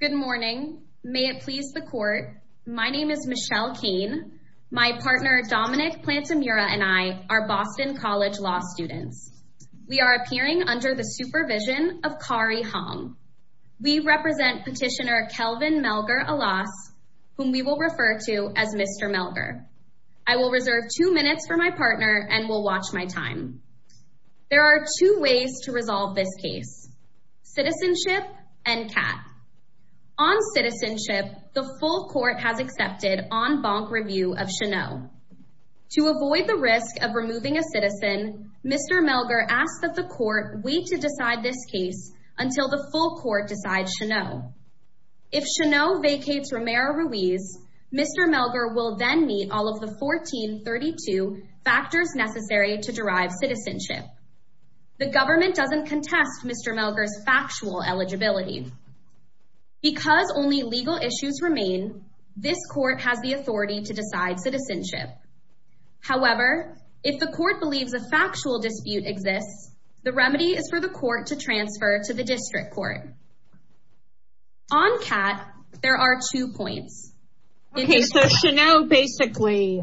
Good morning. May it please the court. My name is Michelle Cain. My partner Dominic Plantemura and I are Boston College Law students. We are appearing under the supervision of Kari Hong. We represent petitioner Kelvin Melgar-Alas, whom we will refer to as Mr. Melgar. I will reserve two minutes for my partner and will watch my time. There are two ways to resolve this case, citizenship and CAT. On citizenship, the full court has accepted en banc review of Cheneau. To avoid the risk of removing a citizen, Mr. Melgar asks that the court wait to decide this case until the full court decides Cheneau. If Cheneau vacates Romero-Ruiz, Mr. Melgar will then meet all of the 1432 factors necessary to derive citizenship. The government doesn't contest Mr. Melgar's factual eligibility. Because only legal issues remain, this court has the authority to decide citizenship. However, if the court believes a factual dispute exists, the remedy is for the court to transfer to the district court. On CAT, there are two points. Okay, so Cheneau basically,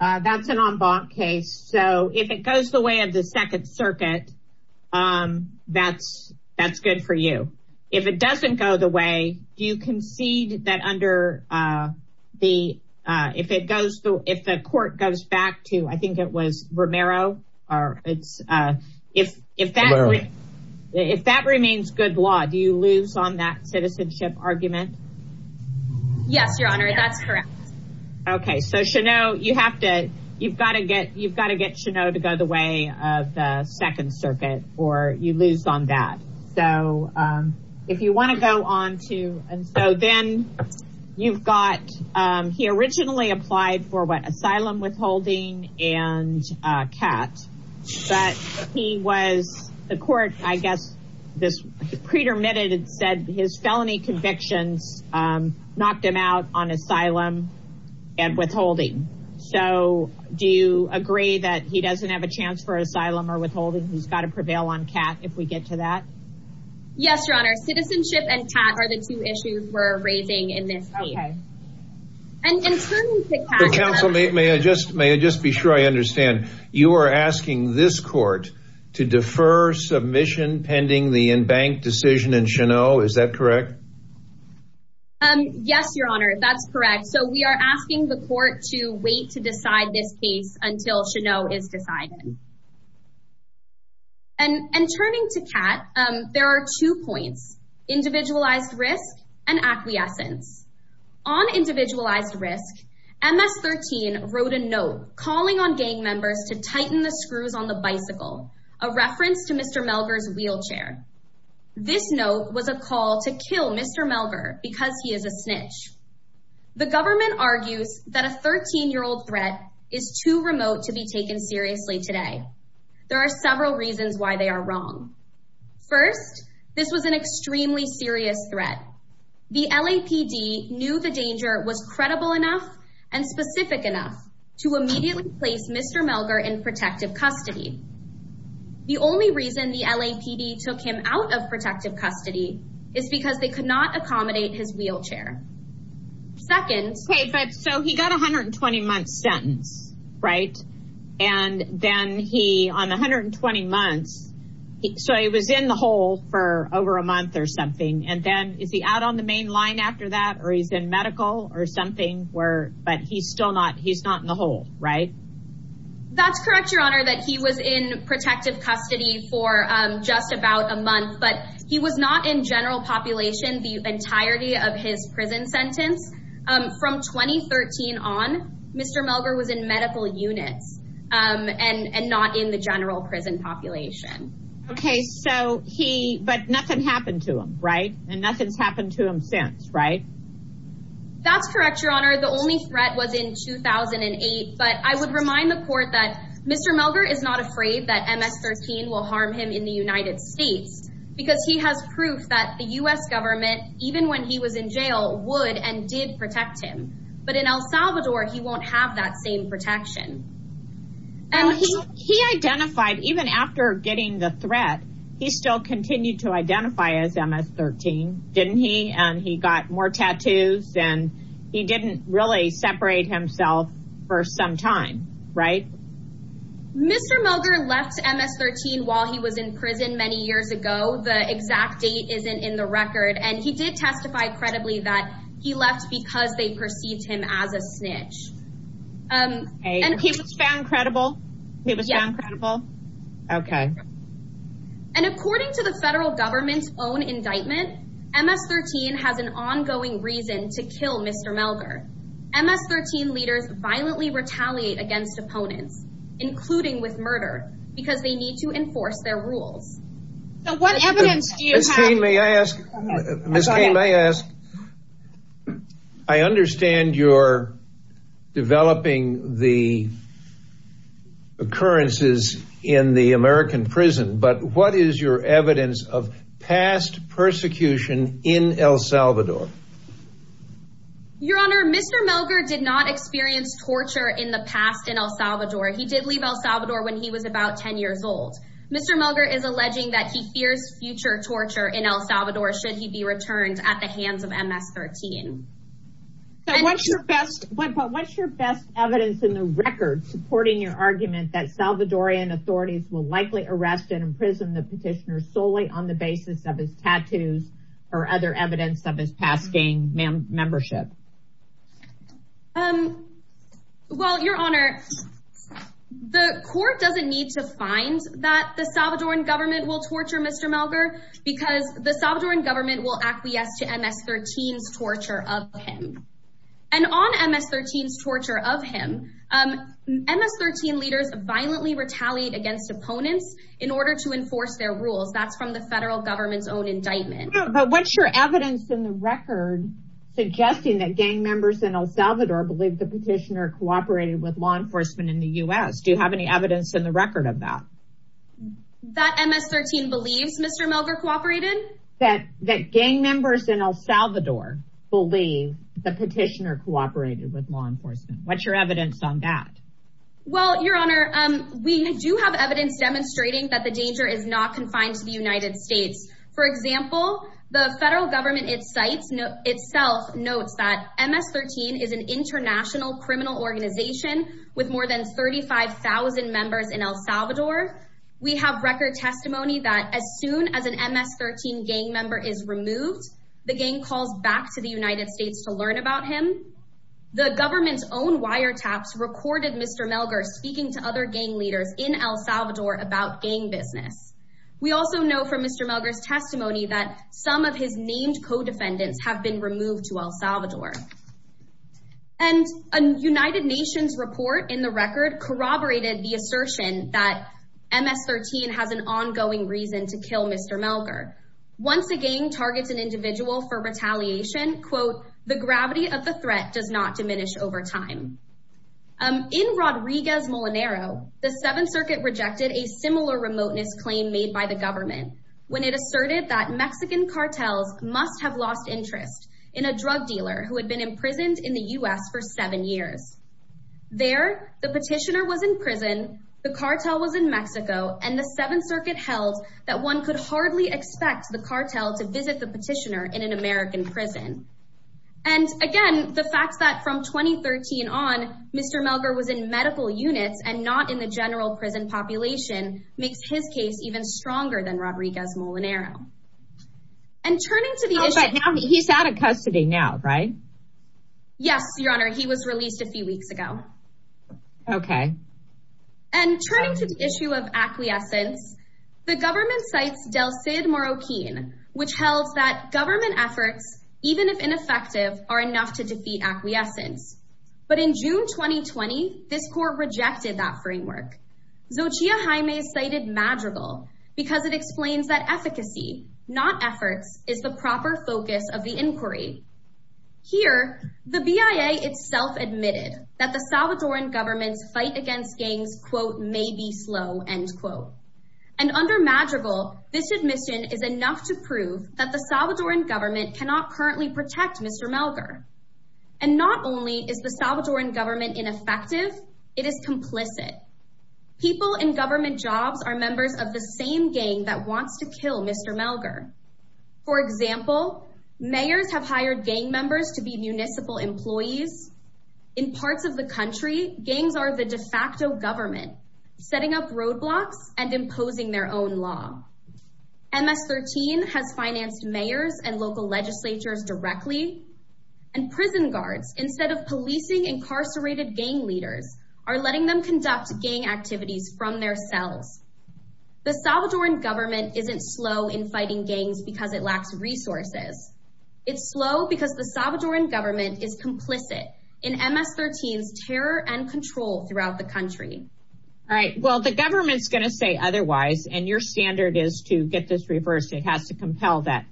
that's an en banc case. So if it goes the way of the second circuit, that's, that's good for you. If it doesn't go the way, do you concede that under the, if it goes through, if the court goes back to, I think it was Romero or it's, if, if that, if that remains good law, do you lose on that citizenship argument? Yes, Your Honor, that's correct. Okay, so Cheneau, you have to, you've got to get, you've got to get Cheneau to go the way of the second circuit or you lose on that. So if you want to go on to, and so then you've got, he originally applied for what, asylum withholding and CAT, but he was, the court, I guess, this pretermitted and said his felony convictions knocked him out on asylum and withholding. So do you agree that he doesn't have a chance for asylum or withholding? He's got to prevail on CAT if we get to that? Yes, Your Honor, citizenship and CAT are the two issues we're raising in this case. Okay. And in terms of CAT, may I just, may I just be sure I understand, you are asking this court to defer submission pending the in-bank decision in Cheneau, is that correct? Yes, Your Honor, that's correct. So we are asking the court to wait to decide this case until Cheneau is decided. And turning to CAT, there are two points, individualized risk and acquiescence. On individualized risk, MS-13 wrote a note calling on gang members to tighten the screws on the bicycle, a reference to Mr. Melger's wheelchair. This note was a call to kill Mr. Melger because he is a snitch. The government argues that a 13-year-old threat is too remote to be taken seriously today. There are several reasons why they are wrong. First, this was an extremely serious threat. The LAPD knew the danger was credible enough and specific enough to immediately place Mr. Melger in protective custody. The only reason the LAPD took him out of protective custody is because they could not accommodate his wheelchair. Second... Okay, but so he got a 120-month sentence, right? And then he, on 120 months, so he was in the hole for over a month or something. And then is he out on the main line after that or he's in medical or something where, but he's still not, he's not in the hole, right? That's correct, Your Honor, that he was in protective custody for just about a month. But he was not in general population, the entirety of his sentence. From 2013 on, Mr. Melger was in medical units and not in the general prison population. Okay, so he, but nothing happened to him, right? And nothing's happened to him since, right? That's correct, Your Honor. The only threat was in 2008. But I would remind the court that Mr. Melger is not afraid that MS-13 will harm him in the United States because he has proof that the U.S. government, even when he was in jail, would and did protect him. But in El Salvador, he won't have that same protection. He identified, even after getting the threat, he still continued to identify as MS-13, didn't he? And he got more tattoos and he didn't really separate himself for some time, right? Mr. Melger left MS-13 while he was in prison many years ago. The exact date isn't in the record. And he did testify credibly that he left because they perceived him as a snitch. And he was found credible? He was found credible? Okay. And according to the federal government's own indictment, MS-13 has an ongoing reason to kill Mr. Melger. MS-13 leaders violently retaliate against opponents, including with murder, because they need to enforce their rules. So what evidence do you have? Ms. Cain, may I ask? I understand you're developing the occurrences in the American prison, but what is your evidence of past persecution in El Salvador? Your Honor, Mr. Melger did not experience torture in the past in El Salvador. He did fear future torture in El Salvador should he be returned at the hands of MS-13. What's your best evidence in the record supporting your argument that Salvadoran authorities will likely arrest and imprison the petitioner solely on the basis of his tattoos or other evidence of his past gang membership? Well, Your Honor, the court doesn't need to find that the Salvadoran will torture Mr. Melger because the Salvadoran government will acquiesce to MS-13's torture of him. And on MS-13's torture of him, MS-13 leaders violently retaliate against opponents in order to enforce their rules. That's from the federal government's own indictment. But what's your evidence in the record suggesting that gang members in El Salvador believe the petitioner cooperated with law enforcement in the U.S.? Do you have any evidence in the record of that? That MS-13 believes Mr. Melger cooperated? That gang members in El Salvador believe the petitioner cooperated with law enforcement? What's your evidence on that? Well, Your Honor, we do have evidence demonstrating that the danger is not confined to the United States. For example, the federal government itself notes that MS-13 is an international criminal organization with more than 35,000 members in El Salvador. We have record testimony that as soon as an MS-13 gang member is removed, the gang calls back to the United States to learn about him. The government's own wiretaps recorded Mr. Melger speaking to other gang leaders in El Salvador about gang business. We also know from Mr. Melger's testimony that some of his named co-defendants have been removed to El Salvador. And a United Nations report in the record corroborated the assertion that MS-13 has an ongoing reason to kill Mr. Melger. Once a gang targets an individual for retaliation, quote, the gravity of the threat does not diminish over time. In Rodriguez Molinaro, the Seventh Circuit rejected a similar remoteness claim made by government when it asserted that Mexican cartels must have lost interest in a drug dealer who had been imprisoned in the U.S. for seven years. There, the petitioner was in prison, the cartel was in Mexico, and the Seventh Circuit held that one could hardly expect the cartel to visit the petitioner in an American prison. And again, the fact that from 2013 on, Mr. Melger was in medical Rodriguez Molinaro. And turning to the issue... Oh, but he's out of custody now, right? Yes, Your Honor, he was released a few weeks ago. Okay. And turning to the issue of acquiescence, the government cites Del Cid Morroquin, which held that government efforts, even if ineffective, are enough to defeat acquiescence. But in June 2020, this court rejected that framework. Xochitl Jaime cited Madrigal because it explains that efficacy, not efforts, is the proper focus of the inquiry. Here, the BIA itself admitted that the Salvadoran government's fight against gangs, quote, may be slow, end quote. And under Madrigal, this admission is enough to prove that the Salvadoran government cannot currently protect Mr. Melger. And not only is the Salvadoran ineffective, it is complicit. People in government jobs are members of the same gang that wants to kill Mr. Melger. For example, mayors have hired gang members to be municipal employees. In parts of the country, gangs are the de facto government, setting up roadblocks and imposing their own law. MS-13 has financed mayors and local legislatures directly. And prison guards, instead of policing incarcerated gang leaders, are letting them conduct gang activities from their cells. The Salvadoran government isn't slow in fighting gangs because it lacks resources. It's slow because the Salvadoran government is complicit in MS-13's terror and control throughout the country. All right, well, the government's going to say otherwise, and your standard is to get this reversed. It has to compel that,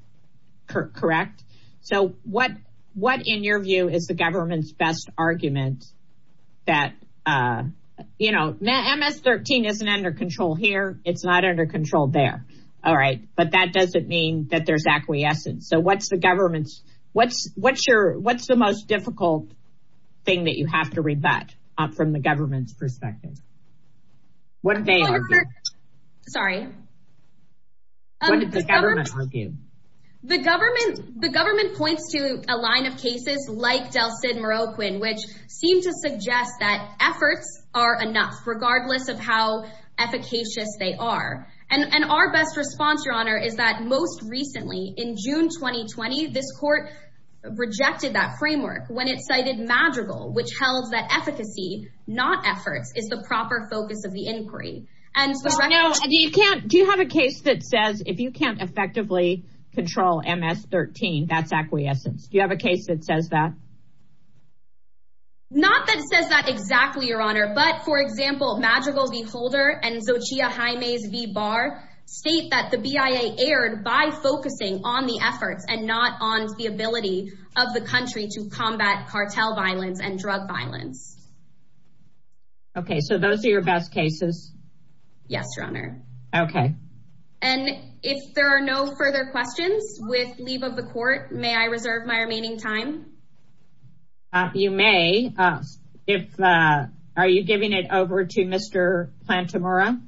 correct? So what, in your view, is the government's best argument that, you know, MS-13 isn't under control here. It's not under control there. All right, but that doesn't mean that there's acquiescence. So what's the government's, what's your, what's the most difficult thing that you have to rebut from the government's perspective? What did they argue? Sorry. What did the government argue? The government, the government points to a line of cases like Del Cid, Morroquin, which seem to suggest that efforts are enough, regardless of how efficacious they are. And our best response, Your Honor, is that most recently, in June 2020, this court rejected that framework when it cited Madrigal, which held that efficacy, not efforts, is the proper focus of the inquiry. Do you have a case that says if you can't effectively control MS-13, that's acquiescence? Do you have a case that says that? Not that it says that exactly, Your Honor, but, for example, Madrigal v. Holder and Xochitl Jaime's v. Barr state that the BIA erred by focusing on the efforts and not on the ability of the country to combat cartel violence and drug violence. Okay, so those are your best cases? Yes, Your Honor. Okay. And if there are no further questions with leave of the court, may I reserve my remaining time? You may. If, are you giving it over to Mr. Plantemura?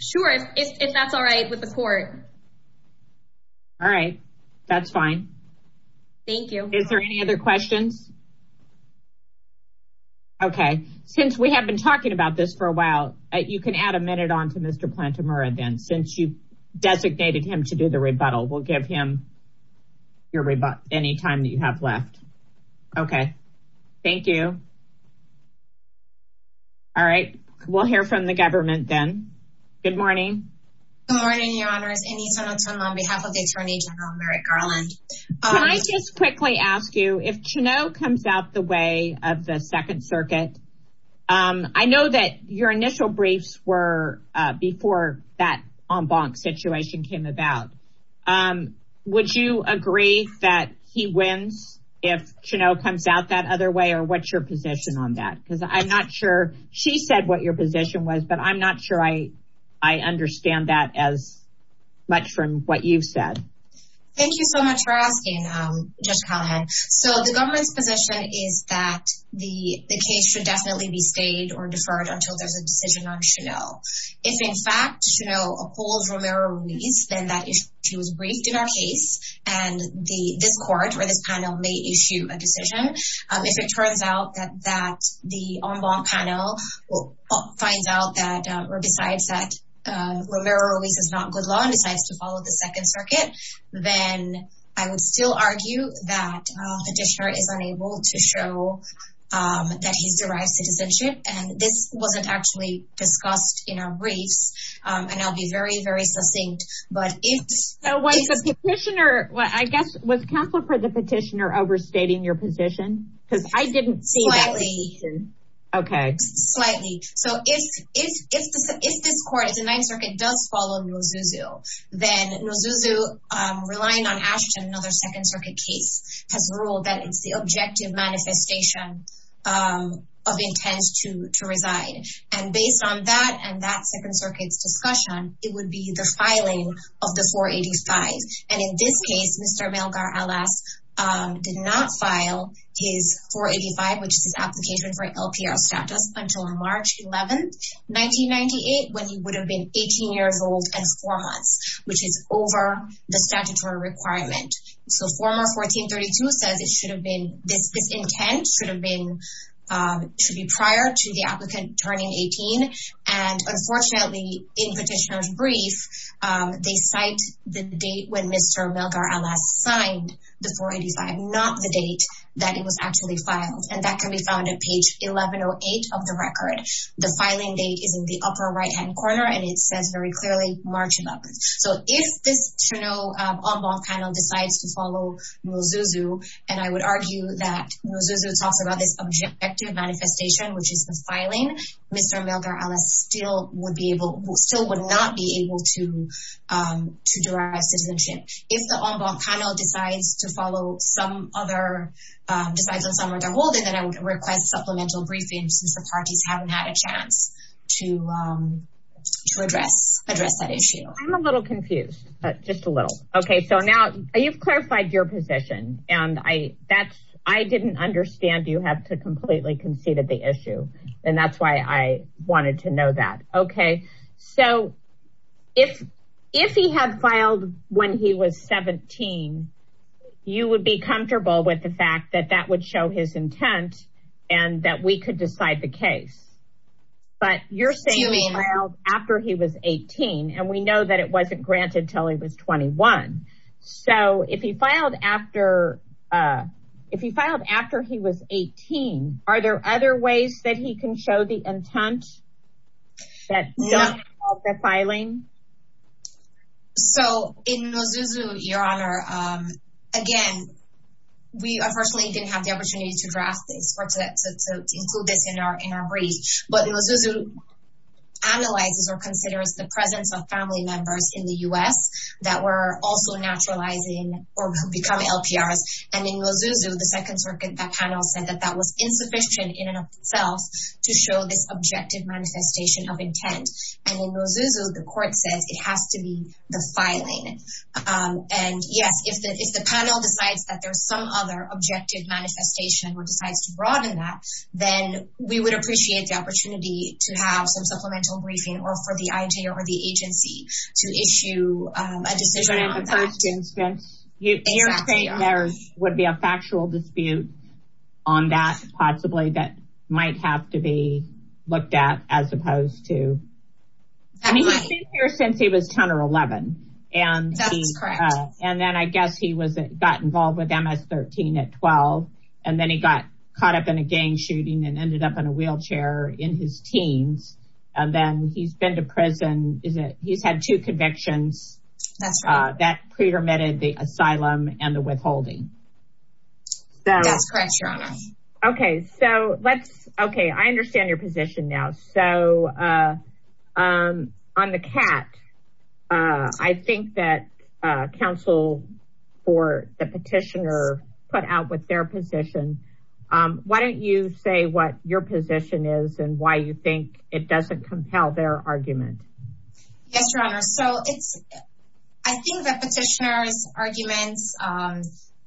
Sure, if that's all right with the court. All right. That's fine. Thank you. Is there any other questions? Okay. Since we have been talking about this for a while, you can add a minute on to Mr. Plantemura then, since you designated him to do the rebuttal. We'll give him your rebuttal any time that you have left. Okay. Thank you. All right. We'll hear from the government then. Good morning. Good morning, Your Honor. On behalf of Attorney General Merrick Garland. Can I just quickly ask you, if Cheneau comes out the way of the Second Circuit, I know that your initial briefs were before that en banc situation came about. Would you agree that he wins if Cheneau comes out that other way? Or what's your position on that? Because I'm not sure. She said what your position was, but I'm not sure I much from what you've said. Thank you so much for asking, Judge Callahan. So the government's position is that the case should definitely be stayed or deferred until there's a decision on Cheneau. If in fact, Cheneau upholds Romero Ruiz, then that issue was briefed in our case, and this court or this panel may issue a decision. If it turns out that the en banc panel finds out that besides that Romero Ruiz is not good law and decides to follow the Second Circuit, then I would still argue that petitioner is unable to show that he's derived citizenship. And this wasn't actually discussed in our briefs. And I'll be very, very succinct. But if the petitioner, I guess, was counsel for the petitioner overstating your position? Because I didn't see that. Slightly. Okay. Slightly. So if this court, if the Ninth Circuit does follow Nozuzu, then Nozuzu, relying on Ashton, another Second Circuit case, has ruled that it's the objective manifestation of intent to reside. And based on that, and that Second Circuit's discussion, it would be the filing of the 485. And in this case, Mr. Melgar-Alas did not file his 485, which is his application for LPR status, until March 11, 1998, when he would have been 18 years old and four months, which is over the statutory requirement. So former 1432 says it should have been, this intent should have been, should be prior to the applicant turning 18. And unfortunately, in petitioner's brief, they cite the date when Mr. Melgar-Alas signed the 485, not the date that it was actually filed. And that can be found on page 1108 of the record. The filing date is in the upper right-hand corner, and it says very clearly, March 11th. So if this Cheneau en banc panel decides to follow Nozuzu, and I would argue that Nozuzu talks about this objective manifestation, which is the filing, Mr. Melgar-Alas still would not be able to derive citizenship. If the en banc panel decides to follow some other, decides on some other role, then I would request supplemental briefing since the parties haven't had a chance to address that issue. I'm a little confused, just a little. Okay, so now you've clarified your position, and I didn't understand you have to completely conceded the issue. And that's why I wanted to know that. Okay, so if, if he had filed when he was 17, you would be comfortable with the fact that that would show his intent, and that we could decide the case. But you're saying he filed after he was 18, and we know that it wasn't granted until he was 21. So if he filed after, if he filed after he was 18, are there other ways that he can show the intent that don't involve the filing? So in Nozuzu, Your Honor, again, we unfortunately didn't have the opportunity to draft this or to include this in our, in our brief. But Nozuzu analyzes or considers the presence of family members in the U.S. that were also naturalizing or become LPRs. And in Nozuzu, the Second Circuit panel said that that was insufficient in and of itself to show this objective manifestation of intent. And in Nozuzu, the court says it has to be the filing. And yes, if the, if the panel decides that there's some other objective manifestation or decides to broaden that, then we would appreciate the opportunity to have some supplemental briefing or for the IJ or the agency to issue a decision on that. But in the first instance, you're saying there would be a factual dispute on that, possibly, that might have to be looked at, as opposed to, I mean, he's been here since he was 13 at 12. And then he got caught up in a gang shooting and ended up in a wheelchair in his teens. And then he's been to prison, he's had two convictions that pretermited the asylum and the withholding. That's correct, Your Honor. Okay, so let's, okay, I understand your position now. So on the cat, I think that counsel for the petitioner put out with their position. Why don't you say what your position is and why you think it doesn't compel their argument? Yes, Your Honor. So it's, I think the petitioner's arguments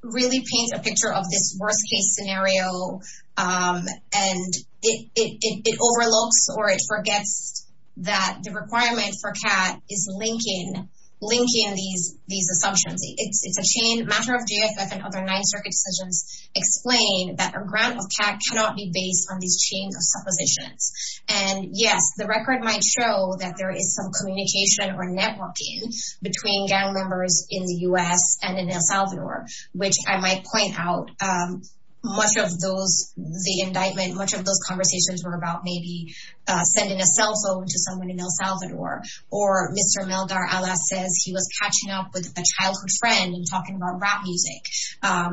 really paint a picture of this worst case scenario. And it overlooks or it forgets that the requirement for cat is linking these assumptions. It's a chain matter of JFF and other Ninth Circuit decisions explain that a grant of cat cannot be based on these chains of suppositions. And yes, the record might show that there is some communication or networking between gang members in the US and in El Salvador, which I might point out, much of those, the indictment, much of those conversations were about maybe sending a cell phone to someone in El Salvador, or Mr. Melgar-Alas says he was catching up with a childhood friend and talking about rap music.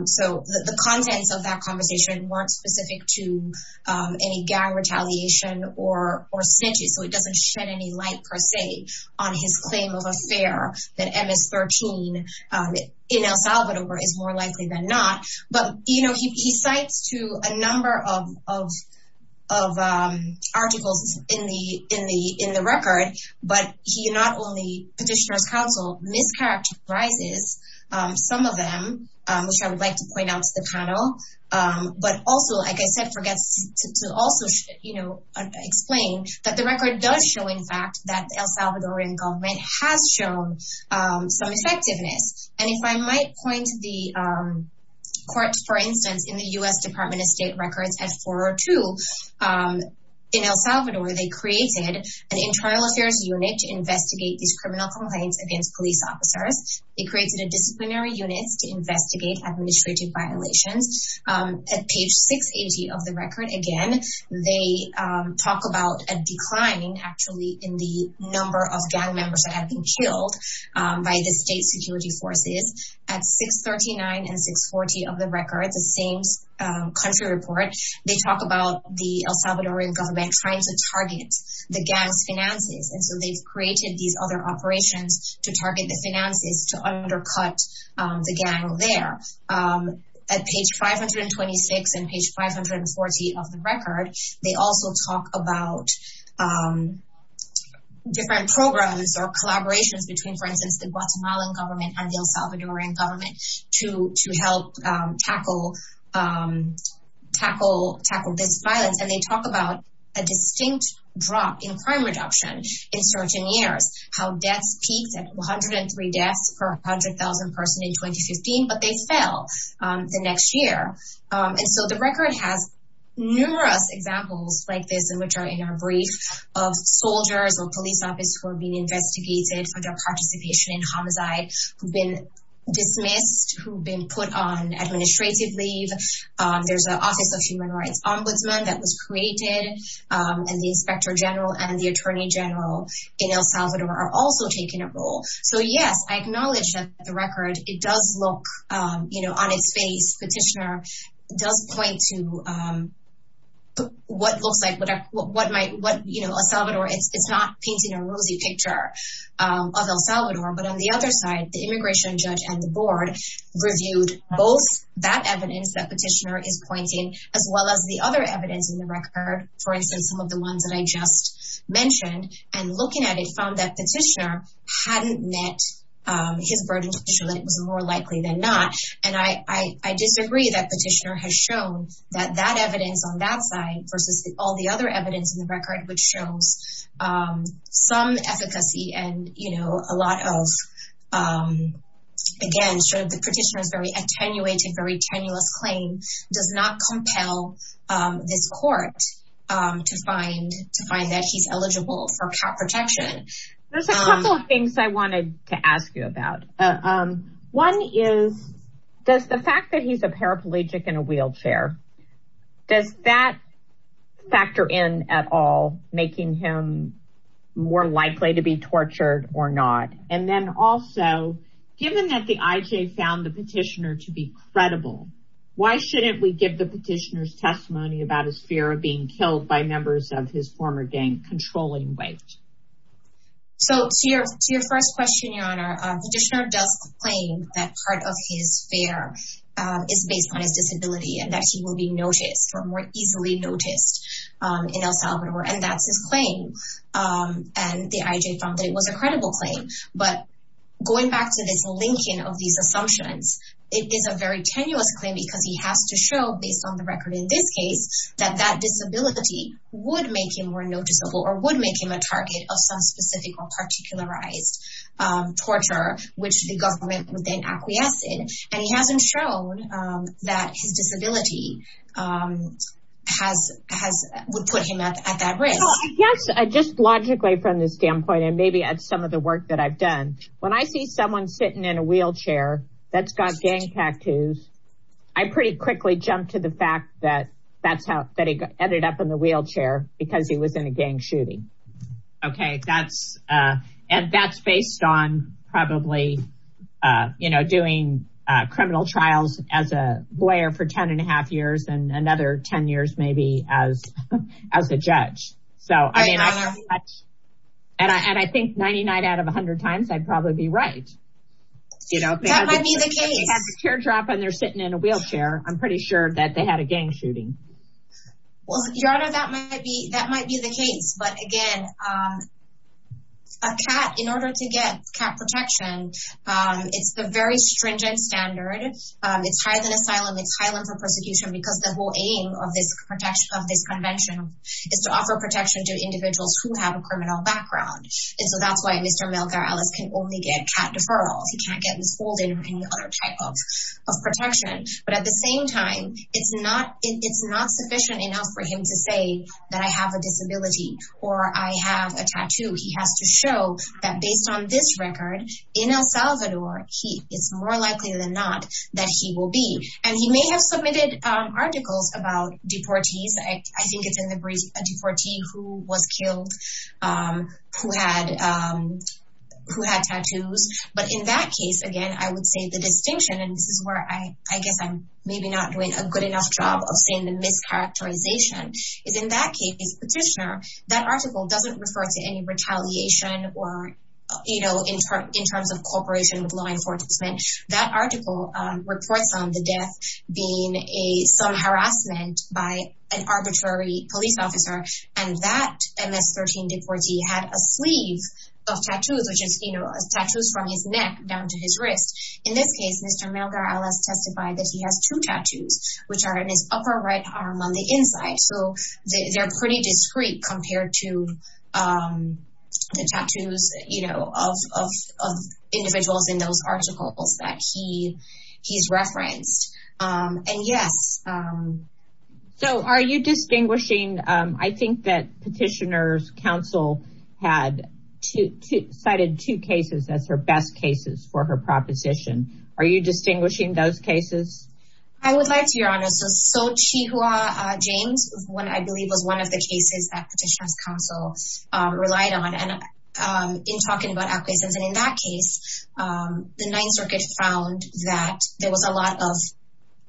So the contents of that conversation weren't specific to any gang retaliation or snitches. So it doesn't shed any light per se on his claim of affair that MS-13 in El Salvador is more likely than not. But, you know, he cites to a number of articles in the record, but he not only petitioner's counsel mischaracterizes some of them, which I would like to point out to the panel. But also, like I said, forgets to also you know, explain that the record does show in fact, that El Salvadorian government has shown some effectiveness. And if I might point to the courts, for instance, in the US Department of State records at 402 in El Salvador, they created an internal affairs unit to investigate these criminal complaints against police officers. They created a disciplinary units to investigate administrative violations. At page 680 of the record, again, they talk about a decline actually in the number of gang members that have been killed by the state security forces. At 639 and 640 of the record, the same country report, they talk about the El Salvadorian government trying to target the gangs finances. And so they've created these other operations to target the finances to at page 526 and page 540 of the record. They also talk about different programs or collaborations between, for instance, the Guatemalan government and the El Salvadorian government to help tackle this violence. And they talk about a distinct drop in crime reduction in certain years, how deaths peaked at 103 deaths per 100,000 person in 2015, but they fell the next year. And so the record has numerous examples like this, and which are in our brief of soldiers or police officers who are being investigated for their participation in homicide, who've been dismissed, who've been put on administrative leave. There's an office of human rights ombudsman that was created, and the inspector general and the attorney general in El Salvador are also taking a role. So yes, I acknowledge that the record, it does look on its face, petitioner does point to what looks like what might, what El Salvador, it's not painting a rosy picture of El Salvador, but on the other side, the immigration judge and the board reviewed both that evidence that petitioner is pointing as well as the other evidence in the and looking at it found that petitioner hadn't met his burden to show that it was more likely than not. And I disagree that petitioner has shown that that evidence on that side versus all the other evidence in the record, which shows some efficacy and, you know, a lot of, again, showed the petitioner is very attenuated, very tenuous claim does not compel this court to find that he's eligible for protection. There's a couple of things I wanted to ask you about. One is, does the fact that he's a paraplegic in a wheelchair, does that factor in at all, making him more likely to be tortured or not? And then also, given that the IJ found the petitioner to be credible, why shouldn't we give the petitioner's testimony about his fear of being killed by members of his former gang controlling weight? So to your first question, your honor, petitioner does claim that part of his fear is based on his disability and that he will be noticed or more easily noticed in El Salvador. And that's his claim. And the IJ found that it was a credible claim. But going back to this linking of these assumptions, it is a very tenuous claim because he has to show, based on the record in this case, that that disability would make him more noticeable or would make him a target of some specific or particularized torture, which the government would then acquiesce in. And he hasn't shown that his disability would put him at that risk. Yes, just logically from this standpoint, and maybe at some of the work that I've done, when I see someone sitting in a wheelchair that's got gang tattoos, I pretty quickly jump to the fact that that's how that he ended up in the wheelchair because he was in a gang shooting. OK, that's and that's based on probably, you know, doing criminal trials as a lawyer for ten and a half years and another ten years, maybe as as a judge. So I mean, and I think ninety nine out of one hundred times I'd probably be right. You know, they have a teardrop and they're sitting in a wheelchair. I'm pretty sure that they had a gang shooting. Well, your honor, that might be that might be the case. But again, a cat in order to get cat protection, it's a very stringent standard. It's higher than asylum. It's higher for persecution because the whole aim of this of this convention is to offer protection to individuals who have a criminal background. And so that's why Mr. Melgar-Ellis can only get cat deferrals. He can't get withholding or any other type of protection. But at the same time, it's not it's not sufficient enough for him to say that I have a disability or I have a tattoo. He has to show that based on this record in El Salvador, he is more likely than not that he will be. And he may have submitted articles about deportees. I think it's in the brief a deportee who was killed, who had who had tattoos. But in that case, again, I would say the distinction and this is where I guess I'm maybe not doing a good enough job of saying the mischaracterization is in that case petitioner. That article doesn't refer to any retaliation or, you know, in terms of cooperation with law that article reports on the death being a some harassment by an arbitrary police officer. And that MS-13 deportee had a sleeve of tattoos, which is, you know, tattoos from his neck down to his wrist. In this case, Mr. Melgar-Ellis testified that he has two tattoos, which are in his upper right arm on the inside. So they're pretty discreet compared to the tattoos, you know, of of of individuals in those articles that he he's referenced. And yes. So are you distinguishing? I think that Petitioner's Council had to cited two cases as her best cases for her proposition. Are you distinguishing those cases? I would like to, Your Honor. So Chihuahua James, when I believe was one of the cases that Petitioner's Council relied on and in talking about acquiescence. And in that case, the Ninth Circuit found that there was a lot of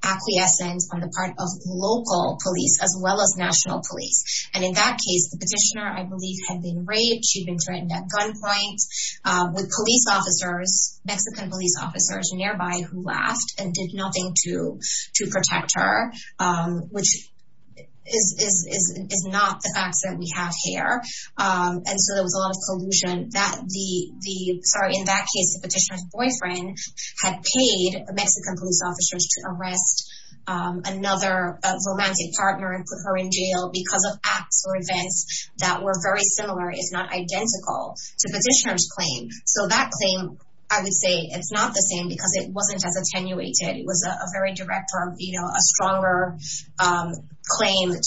acquiescence on the part of local police as well as national police. And in that case, the petitioner, I believe, had been raped. She'd been threatened at gunpoint with police officers, Mexican police officers nearby who laughed and did to protect her, which is is is not the accent we have here. And so there was a lot of collusion that the the sorry, in that case, the petitioner's boyfriend had paid Mexican police officers to arrest another romantic partner and put her in jail because of acts or events that were very similar, if not identical to Petitioner's claim. So that claim, I would say it's not the same because it wasn't as attenuated. It was a very direct or a stronger claim in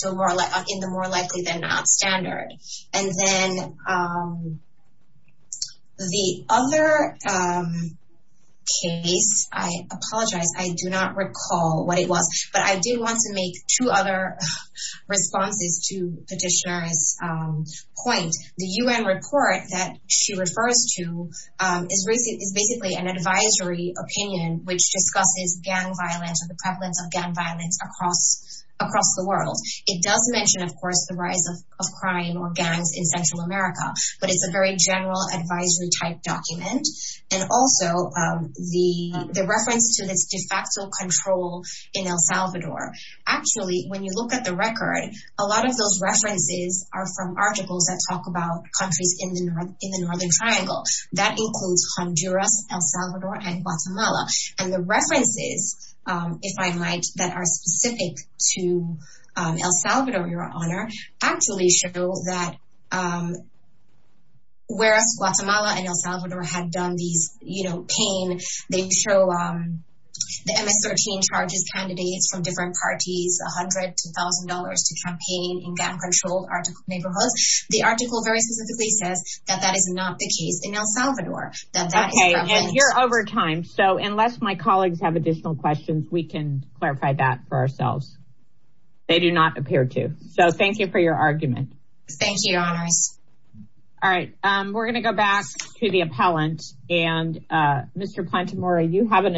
the more likely than not standard. And then the other case, I apologize, I do not recall what it was, but I did want to make two other responses to Petitioner's point. The U.N. report that she refers to is basically an advisory opinion which discusses gang violence and the prevalence of gang violence across the world. It does mention, of course, the rise of crime or gangs in Central America, but it's a very general advisory type document. And also the reference to this de facto control in El Salvador. Actually, when you look at the record, a lot of those references are from articles that talk about countries in the Northern Triangle. That includes Honduras, El Salvador, and Guatemala. And the references, if I might, that are specific to El Salvador, Your Honor, actually show that whereas Guatemala and El Salvador had done these, you know, pain, they show the MS-13 charges candidates from different parties $100 to $1,000 to campaign in gang-controlled neighborhoods. The article very specifically says that that is not the case in El Salvador, that that is prevalent. Okay, and you're over time, so unless my colleagues have additional questions, we can clarify that for ourselves. They do not appear to. So thank you for your argument. Thank you, Your Honors. All right, we're going to go back to the appellant. And Mr. Plantemura, you have an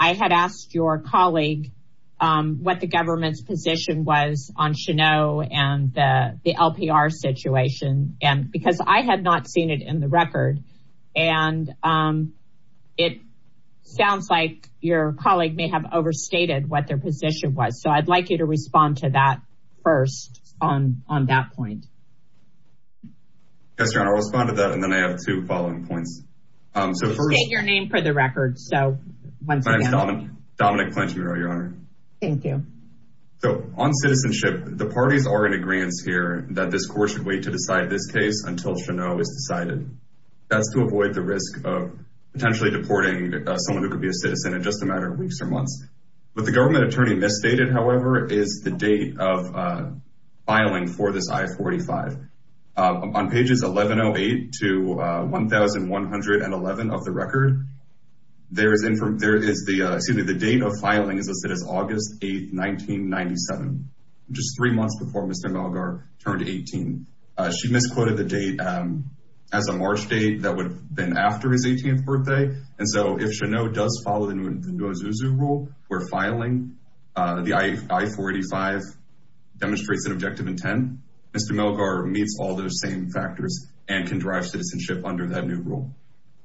I had asked your colleague what the government's position was on Cheneau and the LPR situation, because I had not seen it in the record. And it sounds like your colleague may have overstated what their position was. So I'd like you to respond to that first on that point. Yes, Your Honor, I'll respond to that. And then I have two following points. State your name for the record. Dominic Plantemura, Your Honor. Thank you. So on citizenship, the parties are in agreeance here that this court should wait to decide this case until Cheneau is decided. That's to avoid the risk of potentially deporting someone who could be a citizen in just a matter of weeks or months. But the government attorney misstated, however, is the date of filing is August 8, 1997, which is three months before Mr. Malgar turned 18. She misquoted the date as a March date that would have been after his 18th birthday. And so if Cheneau does follow the Ntozuzu rule, where filing the I-485 demonstrates an objective intent, Mr. Malgar meets all those same factors and can drive citizenship under that new rule.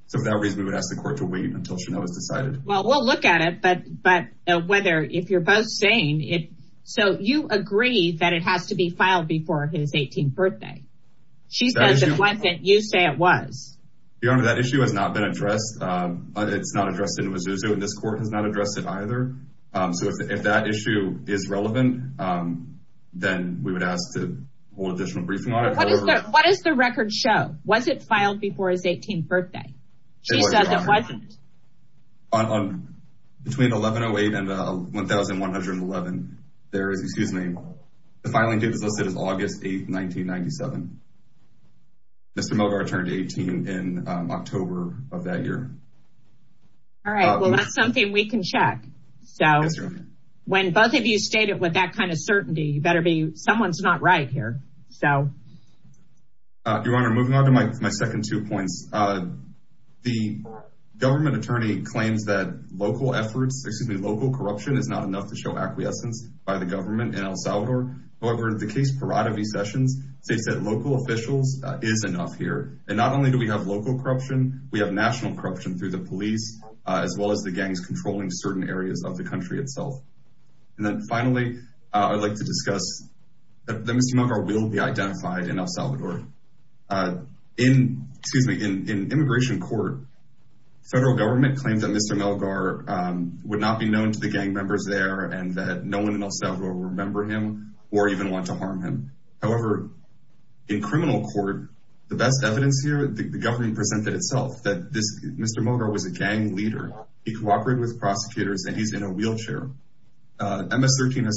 So for that reason, we would ask the court to wait until Cheneau is decided. Well, we'll look at it, but whether if you're both saying it. So you agree that it has to be filed before his 18th birthday. She says it wasn't, you say it was. Your Honor, that issue has not been addressed. It's not addressed in Ntozuzu and this court has not addressed it either. So if that issue is relevant, then we would ask to hold additional briefing on it. What does the record show? Was it filed before his 18th birthday? She says it wasn't. Between 1108 and 1111, the filing date was listed as August 8, 1997. Mr. Malgar turned 18 in October of that year. All right, well, that's something we can check. So when both of you state it with that kind of certainty, you better be, someone's not right here. Your Honor, moving on to my second two points. The government attorney claims that local efforts, excuse me, local corruption is not enough to show acquiescence by the government in El Salvador. However, the case Parada v. Sessions states that local officials is enough here. And not only do we have local corruption, we have national corruption through the police, as well as the I'd like to discuss that Mr. Malgar will be identified in El Salvador. In immigration court, federal government claims that Mr. Malgar would not be known to the gang members there and that no one in El Salvador will remember him or even want to harm him. However, in criminal court, the best evidence here, the government presented itself that Mr. Malgar was a gang leader. He has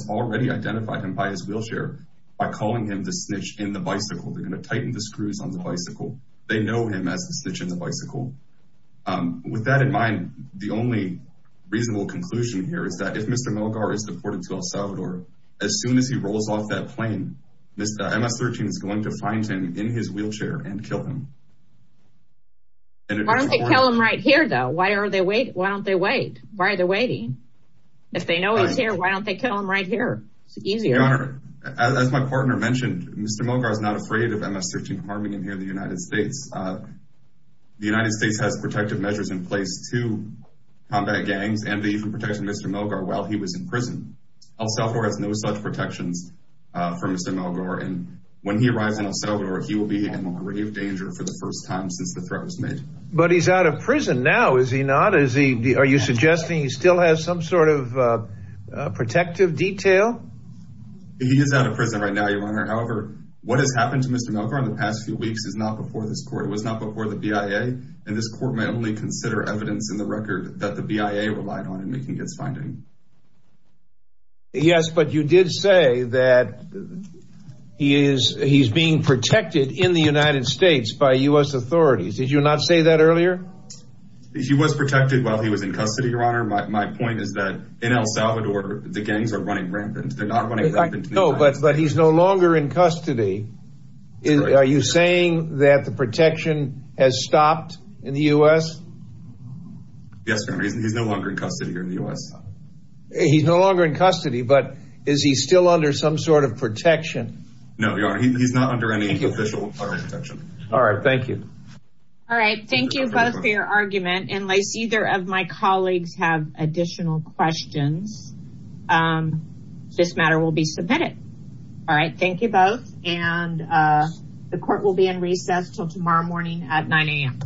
already identified him by his wheelchair, by calling him the snitch in the bicycle. They're going to tighten the screws on the bicycle. They know him as the snitch in the bicycle. With that in mind, the only reasonable conclusion here is that if Mr. Malgar is deported to El Salvador, as soon as he rolls off that plane, Mr. MS-13 is going to find him in his wheelchair and kill him. Why don't they kill him right here, though? Why are they waiting? Why don't they kill him right here? It's easier. Your Honor, as my partner mentioned, Mr. Malgar is not afraid of MS-13 harming him here in the United States. The United States has protective measures in place to combat gangs, and they even protected Mr. Malgar while he was in prison. El Salvador has no such protections for Mr. Malgar, and when he arrives in El Salvador, he will be in grave danger for the first time since the threat was made. But he's out of prison now, is he not? Are you sort of, uh, protective detail? He is out of prison right now, Your Honor. However, what has happened to Mr. Malgar in the past few weeks is not before this court. It was not before the BIA, and this court may only consider evidence in the record that the BIA relied on in making its finding. Yes, but you did say that he is, he's being protected in the United States by U.S. authorities. Did you not say that earlier? He was protected while he was in custody, Your Honor. My point is that in El Salvador, the gangs are running rampant. They're not running rampant. No, but he's no longer in custody. Are you saying that the protection has stopped in the U.S.? Yes, Your Honor. He's no longer in custody here in the U.S. He's no longer in custody, but is he still under some sort of protection? No, Your Honor. He's not under any official protection. All right. Thank you. All right. Thank you both for your argument. Unless either of my colleagues have additional questions, this matter will be submitted. All right. Thank you both, and the court will be in recess until tomorrow morning at 9 a.m.